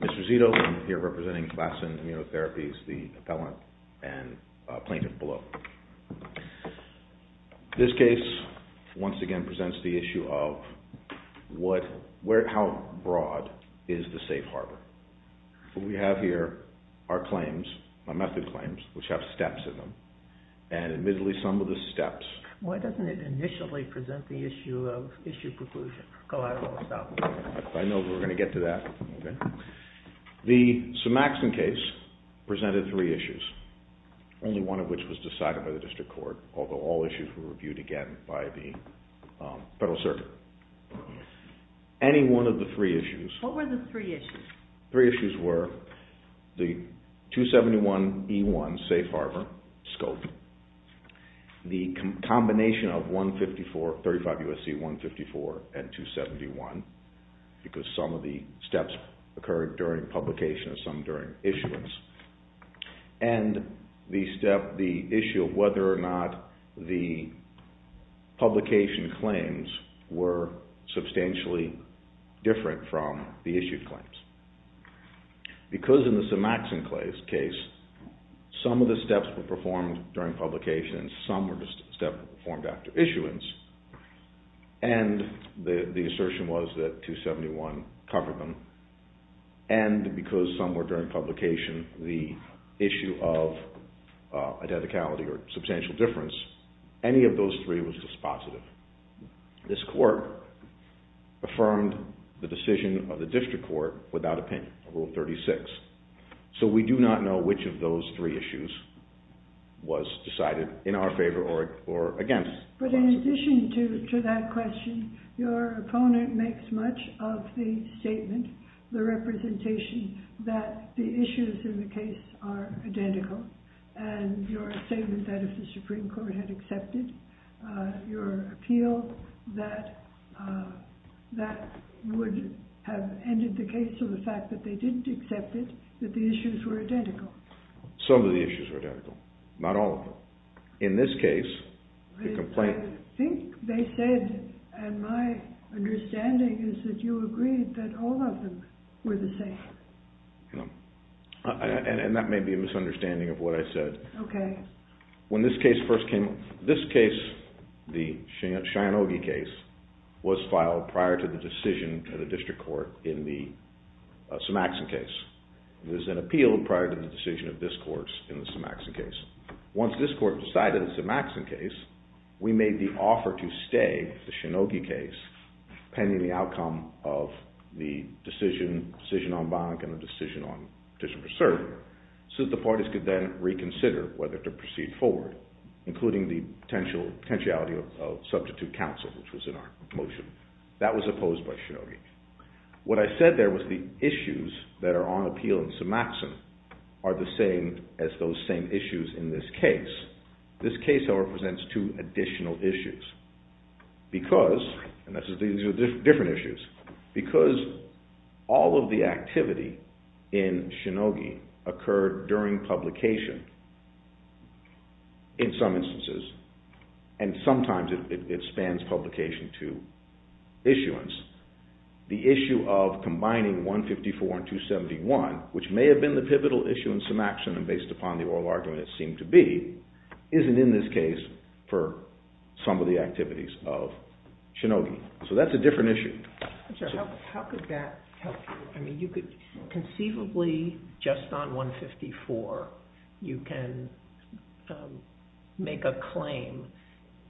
This is Ito. I'm here representing Lassen Immunotherapies, the appellant and plaintiff below. This case, once again, presents the issue of how broad is the safe harbor. What we have here are claims, method claims, which have steps in them, and admittedly some of the steps… I know we're going to get to that. The Sumaxson case presented three issues, only one of which was decided by the District Court, although all issues were reviewed again by the Federal Circuit. Any one of the three issues… What were the three issues? Three issues were the 271E1 safe harbor scope, the combination of 35 U.S.C. 154 and 271, because some of the steps occurred during publication and some during issuance, and the issue of whether or not the publication claims were substantially different from the Because in the Sumaxson case, some of the steps were performed during publication and some were performed after issuance, and the assertion was that 271 covered them, and because some were during publication, the issue of identicality or substantial difference, any of those three was dispositive. This Court affirmed the decision of the District Court without opinion, Rule 36. So we do not know which of those three issues was decided in our favor or against. But in addition to that question, your opponent makes much of the statement, the representation, that the issues in the case are identical, and your statement that if the Supreme Court had accepted your appeal, that that would have ended the case to the fact that they didn't accept it, that the issues were identical. Some of the issues were identical, not all of them. In this case, the complaint… I think they said, and my understanding is that you agreed that all of them were the same. No, and that may be a misunderstanding of what I said. Okay. When this case first came… This case, the Shinogi case, was filed prior to the decision of the District Court in the Sumaxson case. There's an appeal prior to the decision of this Court in the Sumaxson case. Once this Court decided the Sumaxson case, we made the offer to stay the Shinogi case pending the outcome of the decision, decision on Bonnack and the decision on petition for including the potential potentiality of substitute counsel, which was in our motion. That was opposed by Shinogi. What I said there was the issues that are on appeal in Sumaxson are the same as those same issues in this case. This case now represents two additional issues, because… And these are different issues. Because all of the activity in Shinogi occurred during publication in some instances, and sometimes it spans publication to issuance, the issue of combining 154 and 271, which may have been the pivotal issue in Sumaxson and based upon the oral argument it seemed to be, isn't in this case for some of the activities of Shinogi. So that's a different issue. How could that help you? Conceivably, just on 154, you can make a claim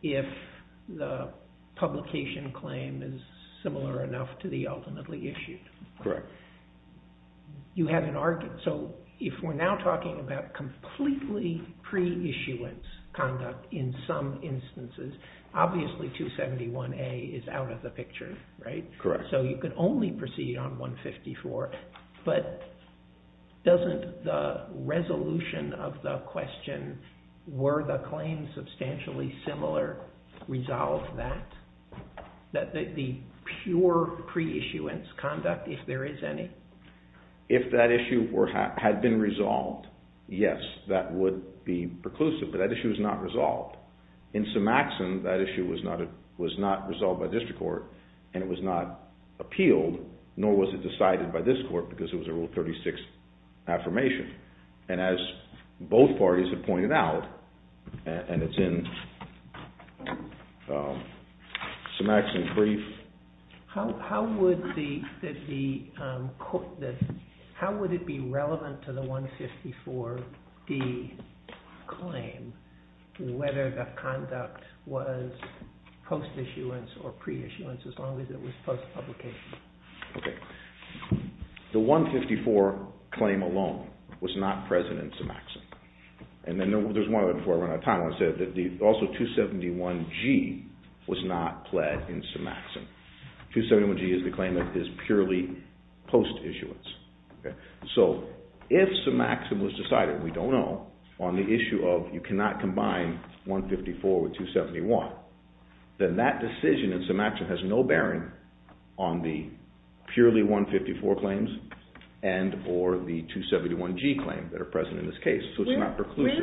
if the publication claim is similar enough to the ultimately issued. Correct. You have an argument. So if we're now talking about completely pre-issuance conduct in some instances, obviously 271A is out of the picture, right? Correct. So you can only proceed on 154. But doesn't the resolution of the question, were the claims substantially similar, resolve that? The pure pre-issuance conduct, if there is any? If that issue had been resolved, yes, that would be preclusive. But that issue is not resolved. In Sumaxson, that issue was not resolved by district court and it was not appealed, nor was it decided by this court because it was a Rule 36 affirmation. And as both parties have pointed out, and it's in Sumaxson brief. How would it be relevant to the 154D claim whether the conduct was post-issuance or pre-issuance as long as it was post-publication? The 154 claim alone was not present in Sumaxson. And then there's one other before I run out of time, I want to say that also 271G was not pled in Sumaxson. 271G is the claim that is purely post-issuance. So if Sumaxson was decided, we don't know, on the issue of you cannot combine 154 with 271, then that decision in Sumaxson has no bearing on the purely 154 claims and or the Where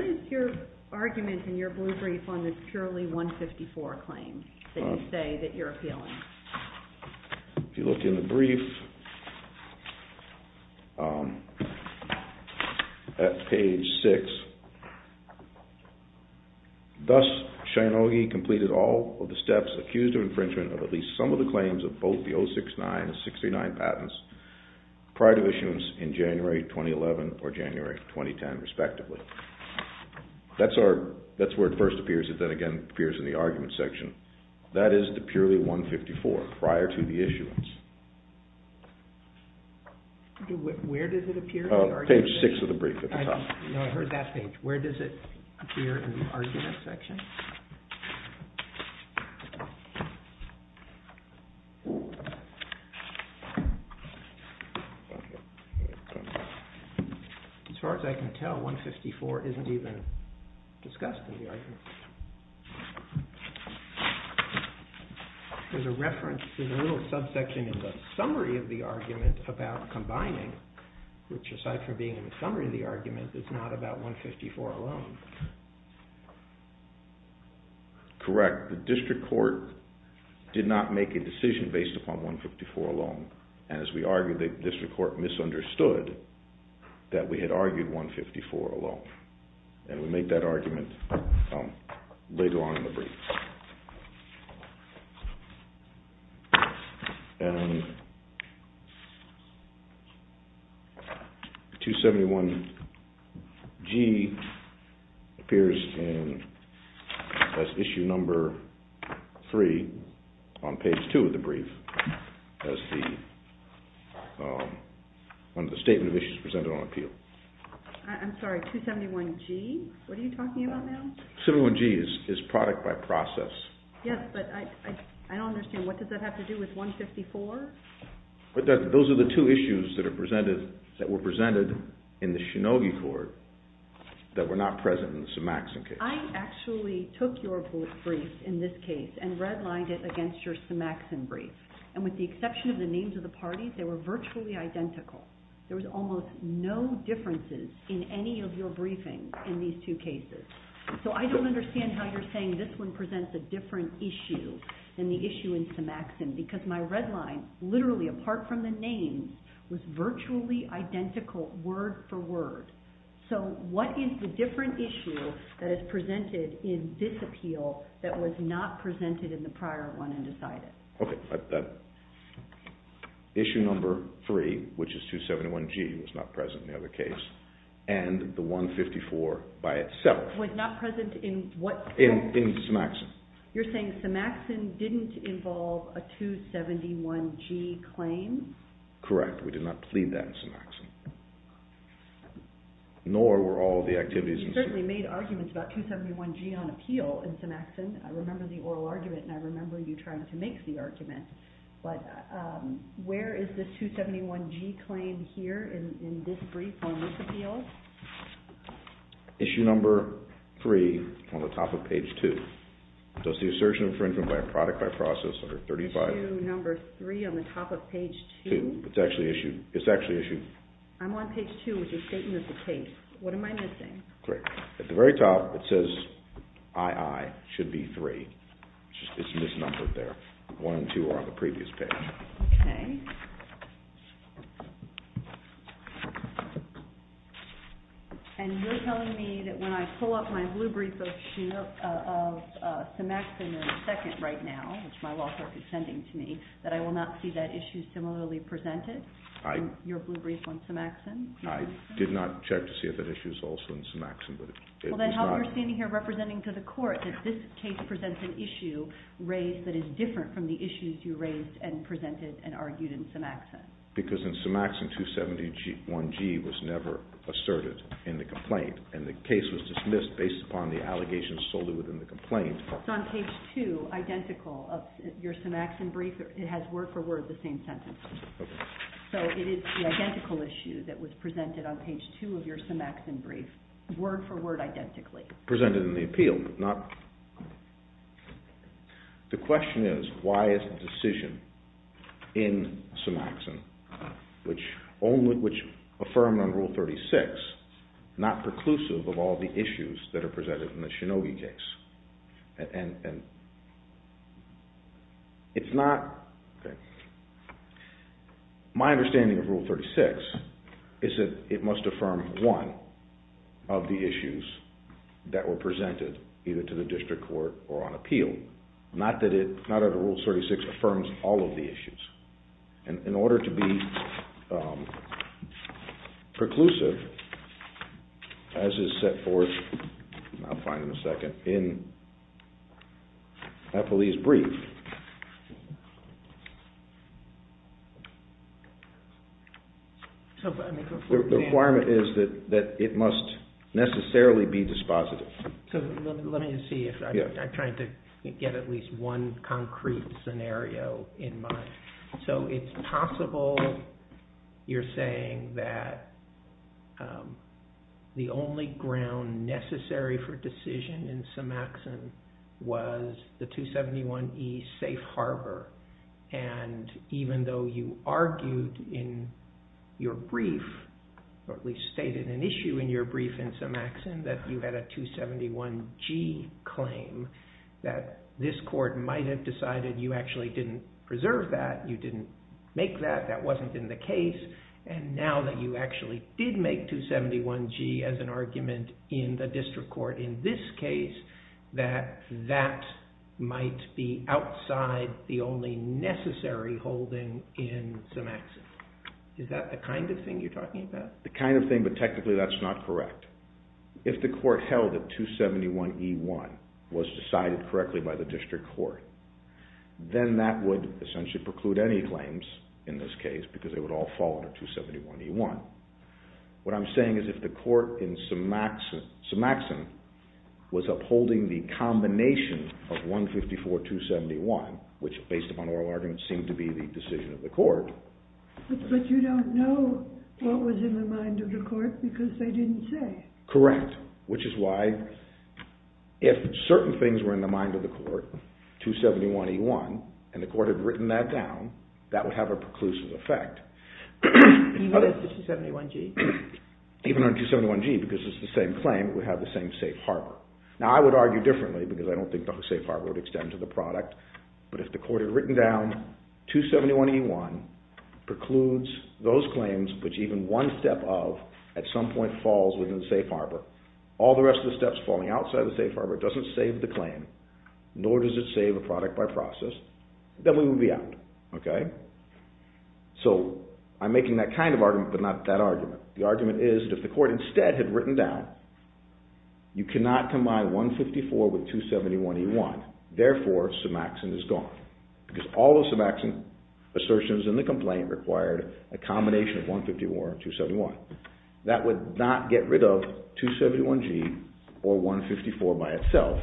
is your argument in your blue brief on this purely 154 claim that you say that you're appealing? If you look in the brief, at page 6, Thus, Shinogi completed all of the steps accused of infringement of at least some of the claims of both the 069 and 639 patents prior to issuance in January 2011 or January 2010 respectively. That's where it first appears and then again appears in the argument section. That is the purely 154 prior to the issuance. Where does it appear? Page 6 of the brief at the top. No, I heard that page. Where does it appear in the argument section? As far as I can tell, 154 isn't even discussed in the argument. There's a reference, there's a little subsection in the summary of the argument about combining, which aside from being in the summary of the argument is not about 154 alone. Correct. The district court did not make a decision based upon 154 alone and as we argued, the district court misunderstood that we had argued 154 alone and we made that argument later on in the brief. And 271G appears as issue number 3 on page 2 of the brief as the statement of issues presented on appeal. I'm sorry, 271G? What are you talking about now? 271G is product by process. Yes, but I don't understand. What does that have to do with 154? Those are the two issues that were presented in the Shinogi court that were not present in the Sumaxson case. I actually took your brief in this case and redlined it against your Sumaxson brief and with the exception of the names of the parties, they were virtually identical. There was almost no differences in any of your briefings in these two cases. So I don't understand how you're saying this one presents a different issue than the issue in Sumaxson because my redline, literally apart from the names, was virtually identical word for word. So what is the different issue that is presented in this appeal that was not presented in the prior one and decided? Okay, issue number 3, which is 271G, was not present in the other case, and the 154 by itself. Was not present in what case? In Sumaxson. You're saying Sumaxson didn't involve a 271G claim? We did not plead that in Sumaxson, nor were all the activities in Sumaxson. You certainly made arguments about 271G on appeal in Sumaxson. I remember the oral argument and I remember you trying to make the argument, but where is the 271G claim here in this brief on this appeal? Issue number 3 on the top of page 2. Does the assertion of infringement by a product by process under 35... Issue number 3 on the top of page 2? It's actually issued. I'm on page 2 with your statement of the case. What am I missing? At the very top it says II, should be 3. It's misnumbered there. 1 and 2 are on the previous page. Okay. And you're telling me that when I pull up my blue brief of Sumaxson in II right now, which my law clerk is sending to me, that I will not see that issue similarly presented in your blue brief on Sumaxson? I did not check to see if that issue is also in Sumaxson. Well, then how are you standing here representing to the court that this case presents an issue raised that is different from the issues you raised and presented and argued in Sumaxson? Because in Sumaxson, 271G was never asserted in the complaint, and the case was dismissed based upon the allegations sold within the complaint. It's on page 2, identical, of your Sumaxson brief. It has word for word the same sentence. Okay. So it is the identical issue that was presented on page 2 of your Sumaxson brief, word for word identically. Presented in the appeal, but not... The question is, why is the decision in Sumaxson, which affirmed on Rule 36, not preclusive of all the issues that are presented in the Shinogi case? It's not... My understanding of Rule 36 is that it must affirm one of the issues that were presented, either to the district court or on appeal. Not that it, not that Rule 36 affirms all of the issues. In order to be preclusive, as is set forth, I'll find in a second, in Napoli's brief. The requirement is that it must necessarily be dispositive. Let me see if I'm trying to get at least one concrete scenario in mind. So it's possible you're saying that the only ground necessary for decision in Sumaxson was the 271E Safe Harbor. And even though you argued in your brief, or at least stated an issue in your brief in Sumaxson, that you had a 271G claim, that this court might have decided you actually didn't preserve that, you didn't make that, that wasn't in the case. And now that you actually did make 271G as an argument in the district court in this case, that that might be outside the only necessary holding in Sumaxson. Is that the kind of thing you're talking about? The kind of thing, but technically that's not correct. If the court held that 271E1 was decided correctly by the district court, then that would essentially preclude any claims in this case, because they would all fall under 271E1. What I'm saying is if the court in Sumaxson was upholding the combination of 154-271, which based upon oral arguments seemed to be the decision of the court. But you don't know what was in the mind of the court, because they didn't say. Correct, which is why if certain things were in the mind of the court, 271E1, and the court had written that down, that would have a preclusive effect. Even on 271G? Even on 271G, because it's the same claim, it would have the same Safe Harbor. Now I would argue differently, because I don't think the Safe Harbor would extend to the product, but if the court had written down 271E1 precludes those claims, which even one step of at some point falls within the Safe Harbor, all the rest of the steps falling outside the Safe Harbor doesn't save the claim, nor does it save the product by process, then we would be out. So I'm making that kind of argument, but not that argument. The argument is that if the court instead had written down, you cannot combine 154 with 271E1. Therefore, Somaxon is gone, because all the Somaxon assertions in the complaint required a combination of 151 and 271. That would not get rid of 271G or 154 by itself,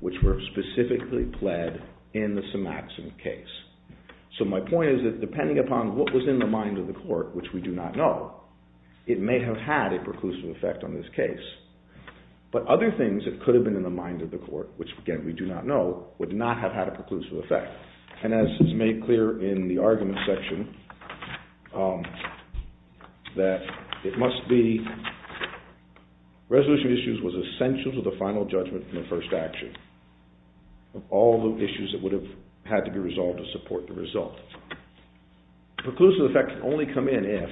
which were specifically pled in the Somaxon case. So my point is that depending upon what was in the mind of the court, which we do not know, it may have had a preclusive effect on this case. But other things that could have been in the mind of the court, which again we do not know, would not have had a preclusive effect. And as is made clear in the argument section, that it must be resolution of issues was essential to the final judgment in the first action. Of all the issues that would have had to be resolved to support the result. Preclusive effects only come in if,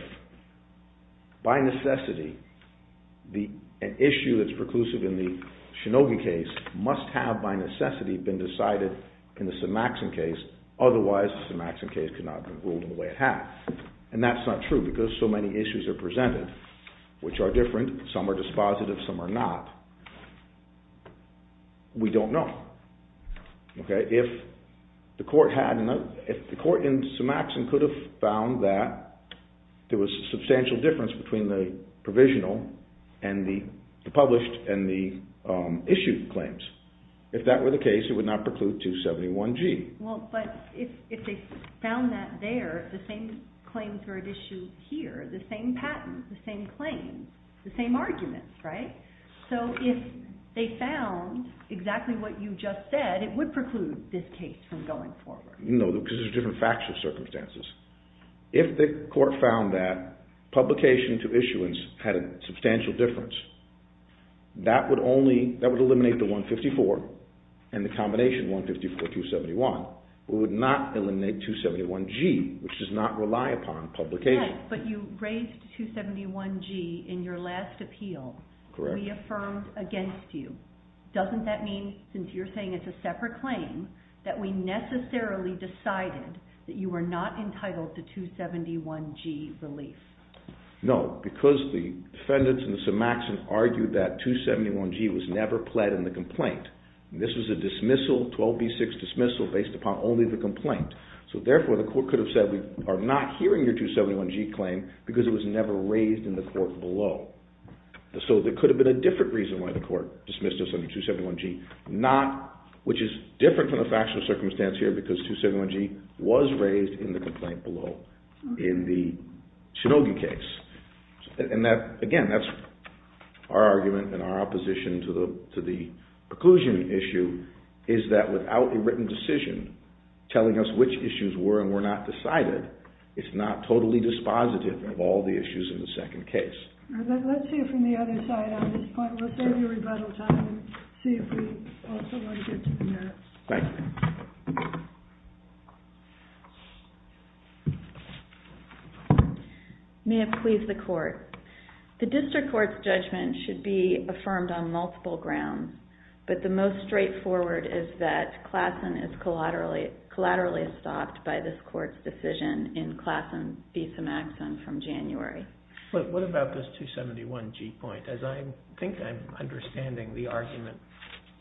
by necessity, an issue that is preclusive in the Shinogen case must have, by necessity, been decided in the Somaxon case. Otherwise, the Somaxon case could not have been ruled in the way it has. And that is not true, because so many issues are presented, which are different, some are dispositive, some are not. We do not know. If the court in Somaxon could have found that there was a substantial difference between the provisional and the published and the issued claims, if that were the case, it would not preclude 271G. But if they found that there, the same claims were issued here, the same patent, the same claims, the same arguments, right? So if they found exactly what you just said, it would preclude this case from going forward. No, because there are different factual circumstances. If the court found that publication to issuance had a substantial difference, that would eliminate the 154 and the combination 154-271. It would not eliminate 271G, which does not rely upon publication. Yes, but you raised 271G in your last appeal. Correct. We affirmed against you. Doesn't that mean, since you're saying it's a separate claim, that we necessarily decided that you were not entitled to 271G relief? No, because the defendants in the Somaxon argued that 271G was never pled in the complaint. This was a dismissal, 12B6 dismissal, based upon only the complaint. So therefore, the court could have said we are not hearing your 271G claim because it was never raised in the court below. So there could have been a different reason why the court dismissed us under 271G, which is different from the factual circumstance here because 271G was raised in the complaint below in the Shinogi case. Again, that's our argument and our opposition to the preclusion issue, is that without a written decision telling us which issues were and were not decided, it's not totally dispositive of all the issues in the second case. Let's hear from the other side on this point. We'll save you rebuttal time and see if we also want to get to the merits. Thank you. May it please the court. The district court's judgment should be affirmed on multiple grounds, but the most straightforward is that Klassen is collaterally stopped by this court's decision in Klassen v. Symaxon from January. But what about this 271G point? As I think I'm understanding the argument,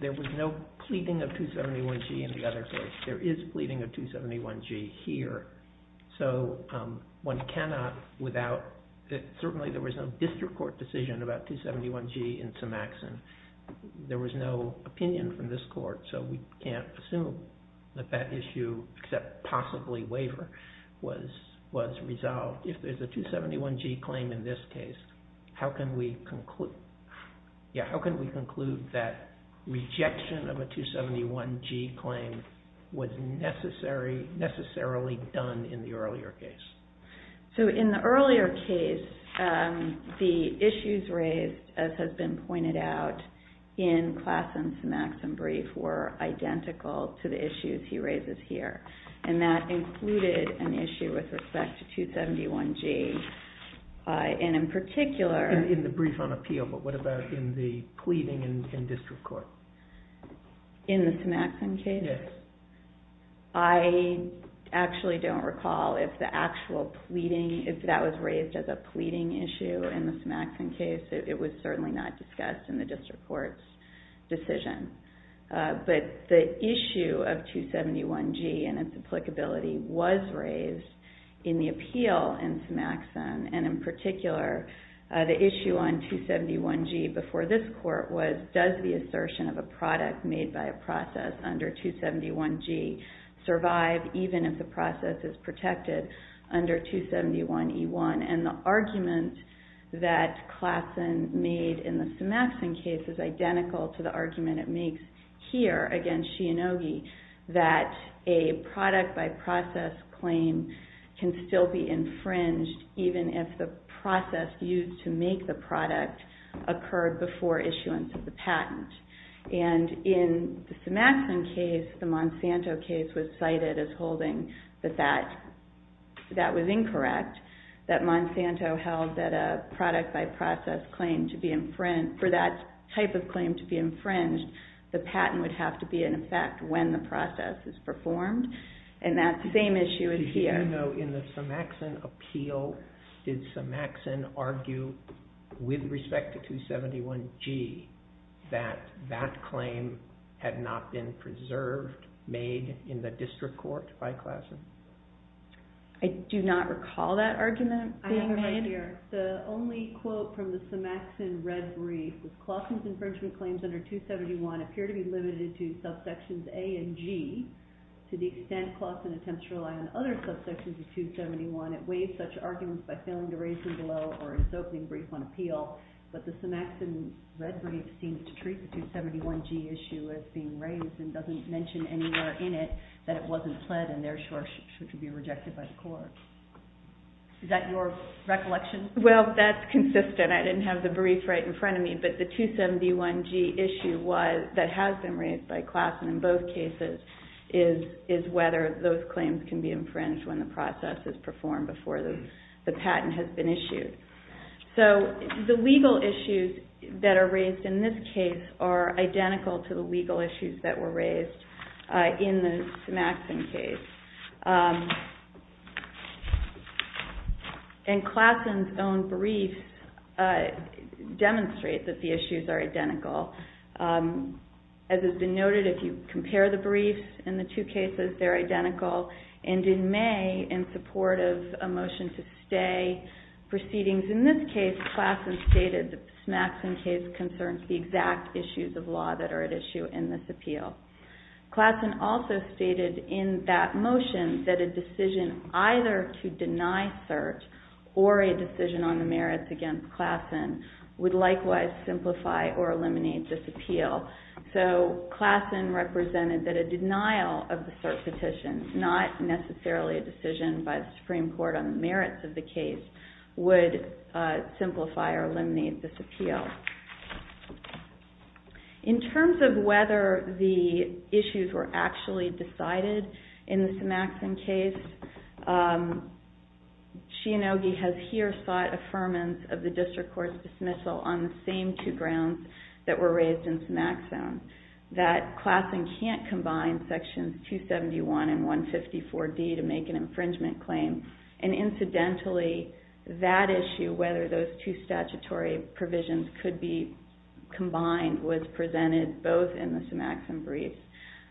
there was no pleading of 271G in the other case. There is pleading of 271G here. So one cannot, without, certainly there was no district court decision about 271G in Symaxon. There was no opinion from this court, so we can't assume that that issue, except possibly waiver, was resolved. If there's a 271G claim in this case, how can we conclude that rejection of a 271G claim was necessarily done in the earlier case? So in the earlier case, the issues raised, as has been pointed out, in Klassen's Symaxon brief were identical to the issues he raises here. And that included an issue with respect to 271G. And in particular... In the brief on appeal, but what about in the pleading in district court? In the Symaxon case? Yes. I actually don't recall if the actual pleading, if that was raised as a pleading issue in the Symaxon case. It was certainly not discussed in the district court's decision. But the issue of 271G and its applicability was raised in the appeal in Symaxon. And in particular, the issue on 271G before this court was, does the assertion of a product made by a process under 271G survive even if the process is protected under 271E1? And the argument that Klassen made in the Symaxon case is identical to the argument it makes here against Shianogi, that a product-by-process claim can still be infringed even if the process used to make the product occurred before issuance of the patent. And in the Symaxon case, the Monsanto case was cited as holding that that was incorrect, that Monsanto held that a product-by-process claim to be... For that type of claim to be infringed, the patent would have to be in effect when the process is performed. And that same issue is here. Did you know in the Symaxon appeal, did Symaxon argue with respect to 271G that that claim had not been preserved, made in the district court by Klassen? I do not recall that argument being made. The only quote from the Symaxon red brief is Klassen's infringement claims under 271 appear to be limited to subsections A and G to the extent Klassen attempts to rely on other subsections of 271. It weighs such arguments by failing to raise them below or in its opening brief on appeal, but the Symaxon red brief seems to treat the 271G issue as being raised and doesn't mention anywhere in it that it wasn't pled and therefore should be rejected by the court. Is that your recollection? Well, that's consistent. I didn't have the brief right in front of me, but the 271G issue that has been raised by Klassen in both cases is whether those claims can be infringed when the process is performed before the patent has been issued. So the legal issues that are raised in this case are identical to the legal issues that were raised in the Symaxon case. And Klassen's own briefs demonstrate that the issues are identical. As has been noted, if you compare the briefs in the two cases, they're identical. And in May, in support of a motion to stay proceedings in this case, Klassen stated that the Symaxon case concerns the exact issues of law that are at issue in this appeal. Klassen also stated in that motion that a decision either to deny cert or a decision on the merits against Klassen would likewise simplify or eliminate this appeal. So Klassen represented that a denial of the cert petition, not necessarily a decision by the Supreme Court on the merits of the case, would simplify or eliminate this appeal. In terms of whether the issues were actually decided in the Symaxon case, Shinogi has here sought affirmance of the district court's dismissal on the same two grounds that were raised in Symaxon, that Klassen can't combine sections 271 and 154D to make an infringement claim. And incidentally, that issue, whether those two statutory provisions could be combined, was presented both in the Symaxon brief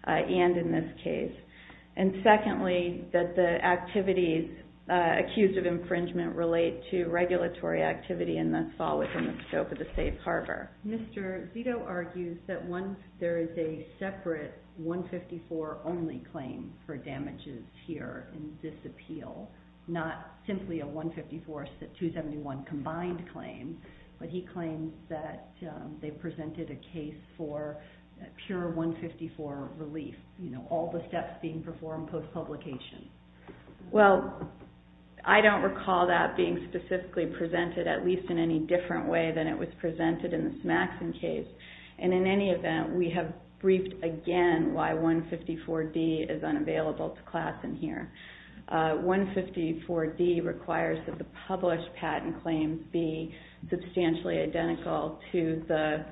and in this case. And secondly, that the activities accused of infringement relate to regulatory activity, and thus fall within the scope of the safe harbor. Mr. Zito argues that there is a separate 154-only claim for damages here in this appeal, not simply a 154-271 combined claim, but he claims that they presented a case for pure 154 relief, all the steps being performed post-publication. Well, I don't recall that being specifically presented, at least in any different way than it was presented in the Symaxon case. And in any event, we have briefed again why 154D is unavailable to Klassen here. 154D requires that the published patent claims be substantially identical to the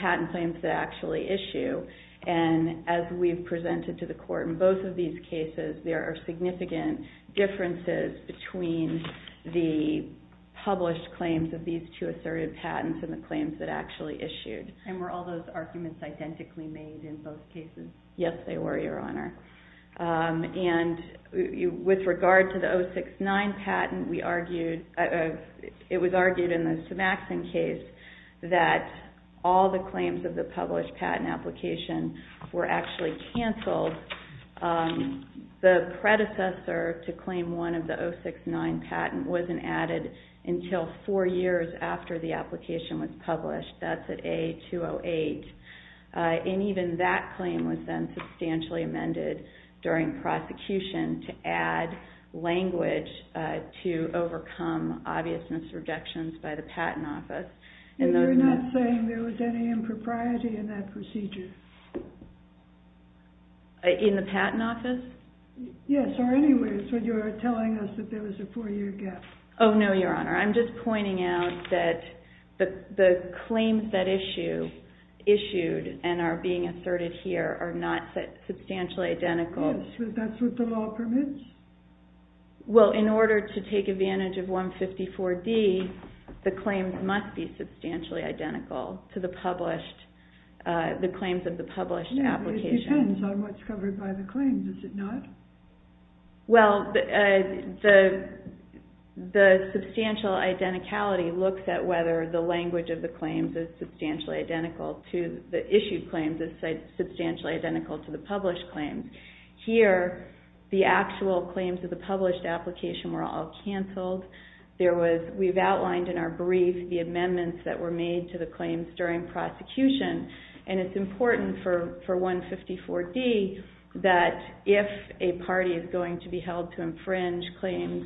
patent claims that actually issue. And as we've presented to the court in both of these cases, there are significant differences between the published claims of these two assertive patents and the claims that actually issued. And were all those arguments identically made in both cases? Yes, they were, Your Honor. And with regard to the 069 patent, it was argued in the Symaxon case that all the claims of the published patent application were actually canceled. The predecessor to claim one of the 069 patent wasn't added until four years after the application was published. That's at A-208. And even that claim was then substantially amended during prosecution to add language to overcome obvious misrejections by the Patent Office. And you're not saying there was any impropriety in that procedure? In the Patent Office? Yes, or anywhere. So you're telling us that there was a four-year gap? Oh, no, Your Honor. I'm just pointing out that the claims that issued and are being asserted here are not substantially identical. Yes, but that's what the law permits? Well, in order to take advantage of 154D, the claims must be substantially identical to the claims of the published application. It depends on what's covered by the claims, does it not? Well, the substantial identicality looks at whether the language of the claims is substantially identical to the issued claims is substantially identical to the published claims. Here, the actual claims of the published application were all canceled. We've outlined in our brief the amendments that were made to the claims during prosecution. And it's important for 154D that if a party is going to be held to infringe claims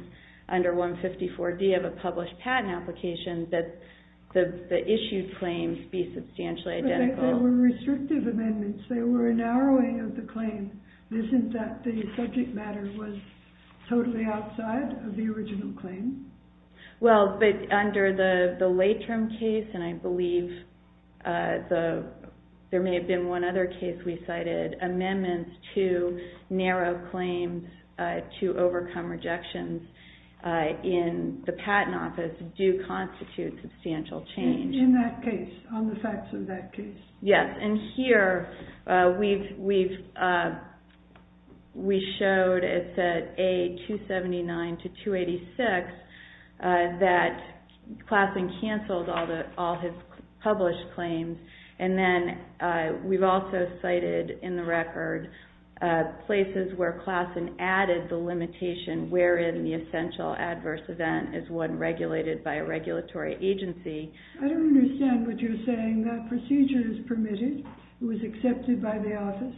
under 154D of a published patent application that the issued claims be substantially identical. But they were restrictive amendments. They were a narrowing of the claim. Isn't that the subject matter was totally outside of the original claim? Well, but under the late-term case, and I believe there may have been one other case we cited, amendments to narrow claims to overcome rejections in the Patent Office do constitute substantial change. In that case, on the facts of that case. Yes, and here we've showed, it said A279 to 286, that Klassen canceled all his published claims. And then we've also cited in the record places where Klassen added the limitation wherein the essential adverse event is one regulated by a regulatory agency. I don't understand what you're saying. That procedure is permitted. It was accepted by the office.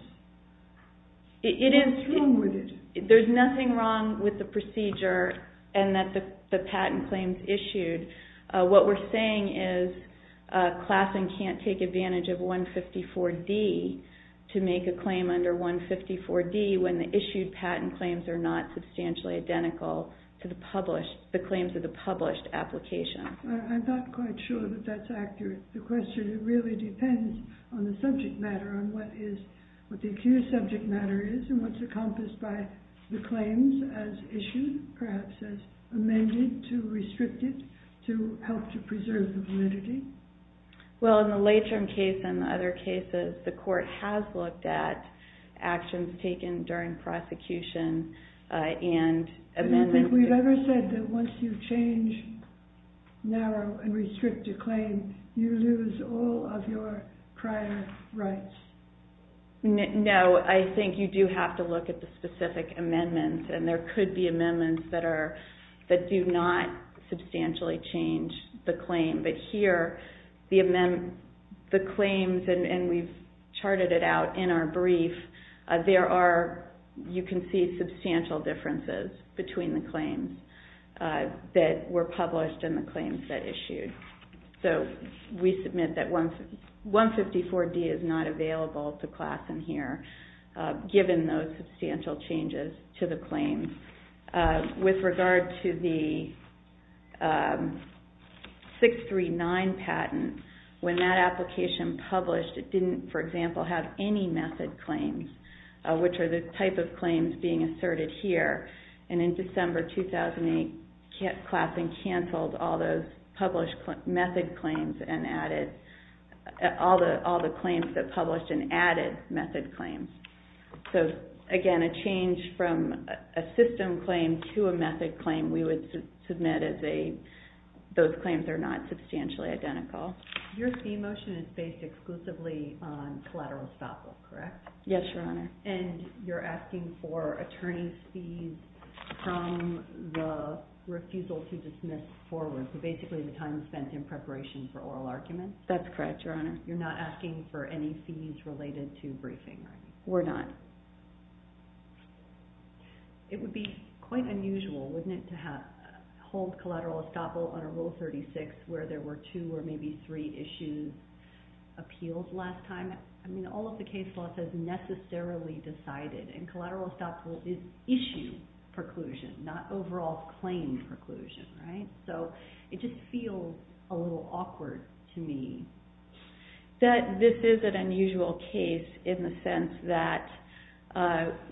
What's wrong with it? There's nothing wrong with the procedure and that the patent claims issued. What we're saying is Klassen can't take advantage of 154D to make a claim under 154D when the issued patent claims are not substantially identical to the claims of the published application. I'm not quite sure that that's accurate. The question really depends on the subject matter, on what the accused subject matter is and what's encompassed by the claims as issued, perhaps as amended to restrict it to help to preserve the validity. Well, in the late-term case and the other cases, the court has looked at actions taken during prosecution and amendments. Have we ever said that once you change, narrow, and restrict a claim, you lose all of your prior rights? No, I think you do have to look at the specific amendments. And there could be amendments that do not substantially change the claim. But here, the claims, and we've charted it out in our brief, there are, you can see, substantial differences between the claims that were published and the claims that issued. So we submit that 154D is not available to class in here, given those substantial changes to the claims. With regard to the 639 patent, when that application published, it didn't, for example, have any method claims, which are the type of claims being asserted here. And in December 2008, classing canceled all those published method claims and added all the claims that published and added method claims. So again, a change from a system claim to a method claim, we would submit as those claims are not substantially identical. Your fee motion is based exclusively on collateral stop loss, correct? Yes, Your Honor. And you're asking for attorney's fees from the refusal to dismiss forward, so basically the time spent in preparation for oral arguments? That's correct, Your Honor. You're not asking for any fees related to briefing? We're not. It would be quite unusual, wouldn't it, to hold collateral estoppel under Rule 36, where there were two or maybe three issues appealed last time. I mean, all of the case law says necessarily decided, and collateral estoppel is issue preclusion, not overall claim preclusion, right? So it just feels a little awkward to me. This is an unusual case in the sense that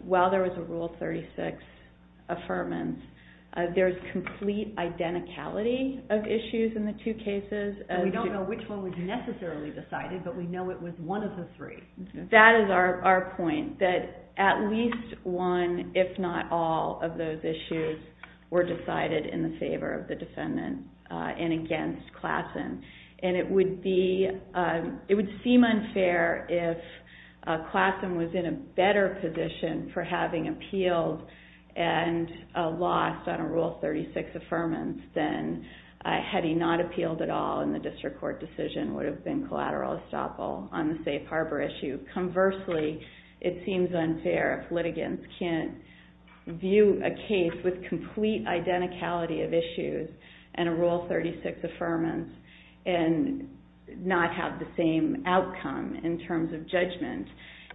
while there was a Rule 36 affirmance, there's complete identicality of issues in the two cases. And we don't know which one was necessarily decided, but we know it was one of the three. That is our point, that at least one, if not all, of those issues were decided in the favor of the defendant and against Klassen. And it would seem unfair if Klassen was in a better position for having appealed and lost on a Rule 36 affirmance than had he not appealed at all and the district court decision would have been collateral estoppel on the safe harbor issue. Conversely, it seems unfair if litigants can't view a case with complete identicality of issues and a Rule 36 affirmance and not have the same outcome in terms of judgment.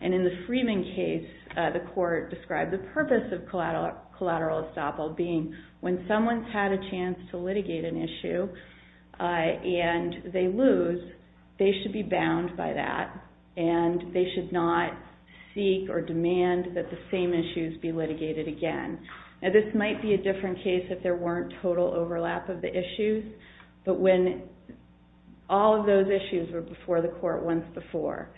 And in the Freeman case, the court described the purpose of collateral estoppel being when someone's had a chance to litigate an issue and they lose, they should be bound by that and they should not seek or demand that the same issues be litigated again. This might be a different case if there weren't total overlap of the issues. But when all of those issues were before the court once before,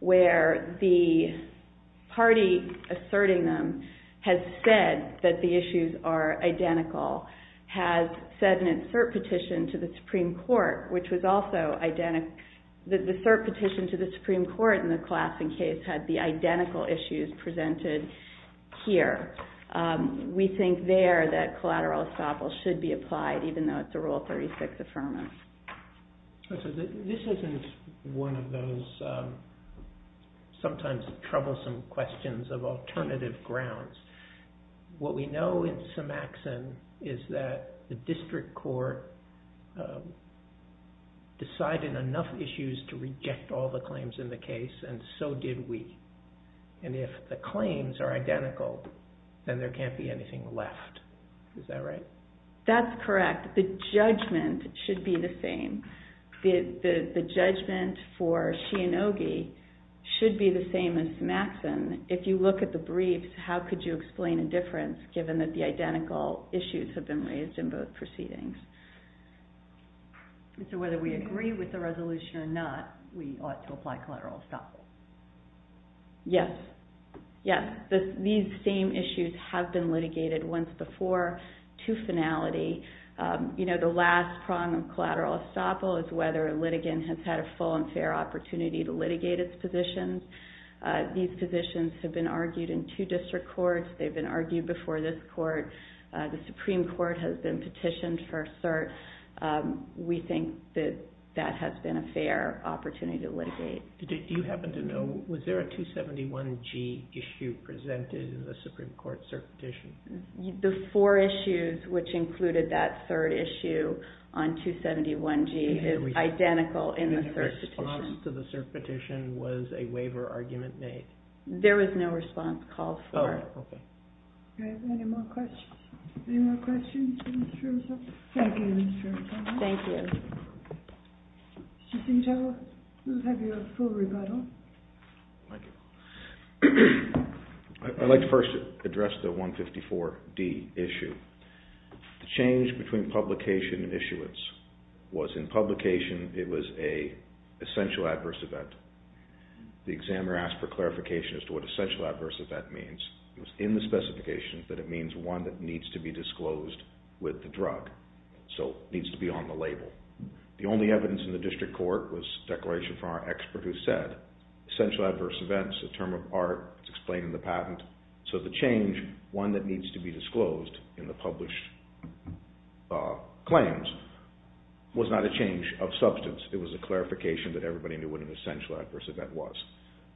where the party asserting them has said that the issues are identical, has said in its third petition to the Supreme Court, which was also identical, the third petition to the Supreme Court in the Klassen case had the identical issues presented here. We think there that collateral estoppel should be applied even though it's a Rule 36 affirmance. This isn't one of those sometimes troublesome questions of alternative grounds. What we know in Symaxon is that the district court decided enough issues to reject all the claims in the case and so did we. And if the claims are identical, then there can't be anything left. Is that right? That's correct. The judgment should be the same. The judgment for Shianogi should be the same as Symaxon. If you look at the briefs, how could you explain a difference given that the identical issues have been raised in both proceedings? So whether we agree with the resolution or not, we ought to apply collateral estoppel. Yes. Yes. These same issues have been litigated once before to finality. The last prong of collateral estoppel is whether a litigant has had a full and fair opportunity to litigate its positions. These positions have been argued in two district courts. They've been argued before this court. The Supreme Court has been petitioned for cert. We think that that has been a fair opportunity to litigate. Do you happen to know, was there a 271G issue presented in the Supreme Court cert petition? The four issues, which included that third issue on 271G, is identical in the cert petition. The response to the cert petition was a waiver argument made. There was no response called for. Oh, OK. OK, any more questions? Any more questions for Mr. Rizzo? Thank you, Mr. Rizzo. Thank you. Mr. Stengel, we'll have you at a full rebuttal. Thank you. I'd like to first address the 154D issue. The change between publication and issuance was in publication it was an essential adverse event. The examiner asked for clarification as to what essential adverse event means. It was in the specification that it means one that needs to be disclosed with the drug, so needs to be on the label. The only evidence in the district court was a declaration from our expert who said essential adverse event is a term of art. It's explained in the patent. So the change, one that needs to be disclosed in the published claims, was not a change of substance. It was a clarification that everybody knew what an essential adverse event was.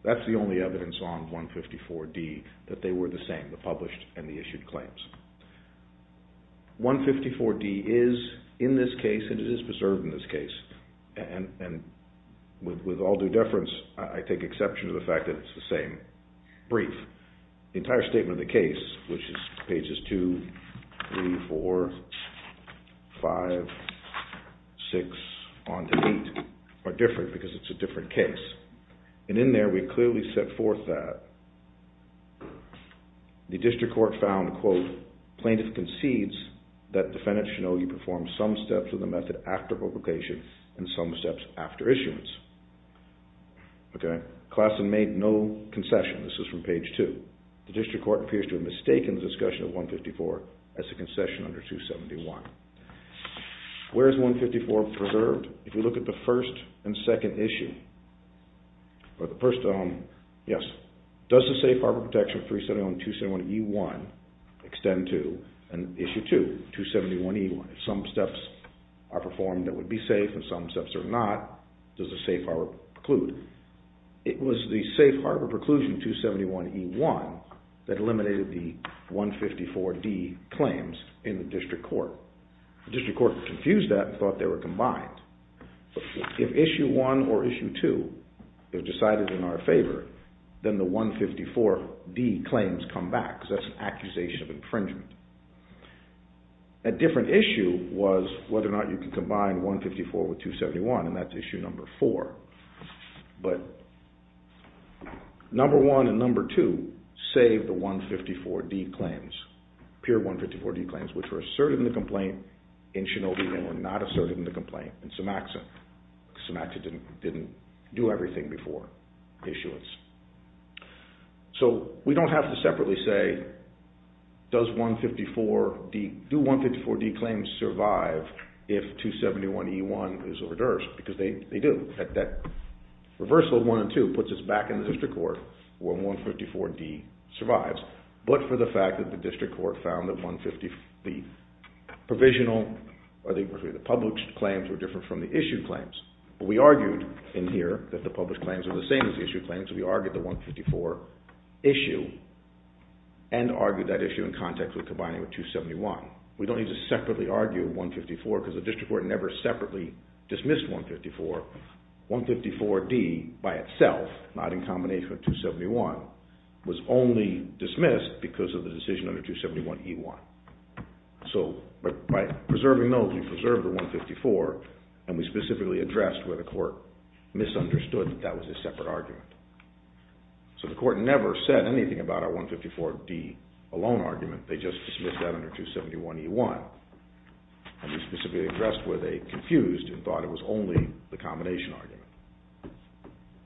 That's the only evidence on 154D that they were the same, the published and the issued claims. 154D is in this case, and it is preserved in this case, and with all due deference, I take exception to the fact that it's the same brief. The entire statement of the case, which is pages 2, 3, 4, 5, 6, on to 8, are different because it's a different case. And in there we clearly set forth that. The district court found, quote, plaintiff concedes that defendant Shinogi performed some steps of the method after publication and some steps after issuance. Okay, class and made no concession. This is from page 2. The district court appears to have mistaken the discussion of 154 as a concession under 271. Where is 154 preserved? If you look at the first and second issue, or the first, yes, does the Safe Harbor Protection Free Setting on 271E1 extend to, and issue 2, 271E1, if some steps are performed that would be safe and some steps are not, does the Safe Harbor preclude? It was the Safe Harbor Preclusion 271E1 that eliminated the 154D claims in the district court. The district court confused that and thought they were combined. If issue 1 or issue 2 is decided in our favor, then the 154D claims come back because that's an accusation of infringement. A different issue was whether or not you could combine 154 with 271, and that's issue number 4. But number 1 and number 2 save the 154D claims, peer 154D claims which were asserted in the complaint in Shinobi and were not asserted in the complaint in Sumatran. Sumatran didn't do everything before issuance. So we don't have to separately say does 154D, do 154D claims survive if 271E1 is reversed, because they do. That reversal of 1 and 2 puts us back in the district court where 154D survives, but for the fact that the district court found that the published claims were different from the issued claims. We argued in here that the published claims were the same as the issued claims, so we argued the 154 issue and argued that issue in context with combining with 271. We don't need to separately argue 154 because the district court never separately dismissed 154. 154D by itself, not in combination with 271, was only dismissed because of the decision under 271E1. So by preserving those, we preserved the 154 and we specifically addressed where the court misunderstood that that was a separate argument. So the court never said anything about our 154D alone argument, they just dismissed that under 271E1. And we specifically addressed where they confused and thought it was only the combination argument.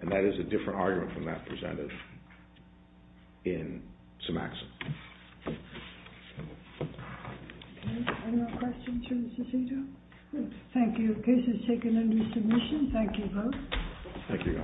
And that is a different argument from that presented in Symaxon. Thank you. The case is taken under submission. Thank you both. Thank you. Thank you, Mark.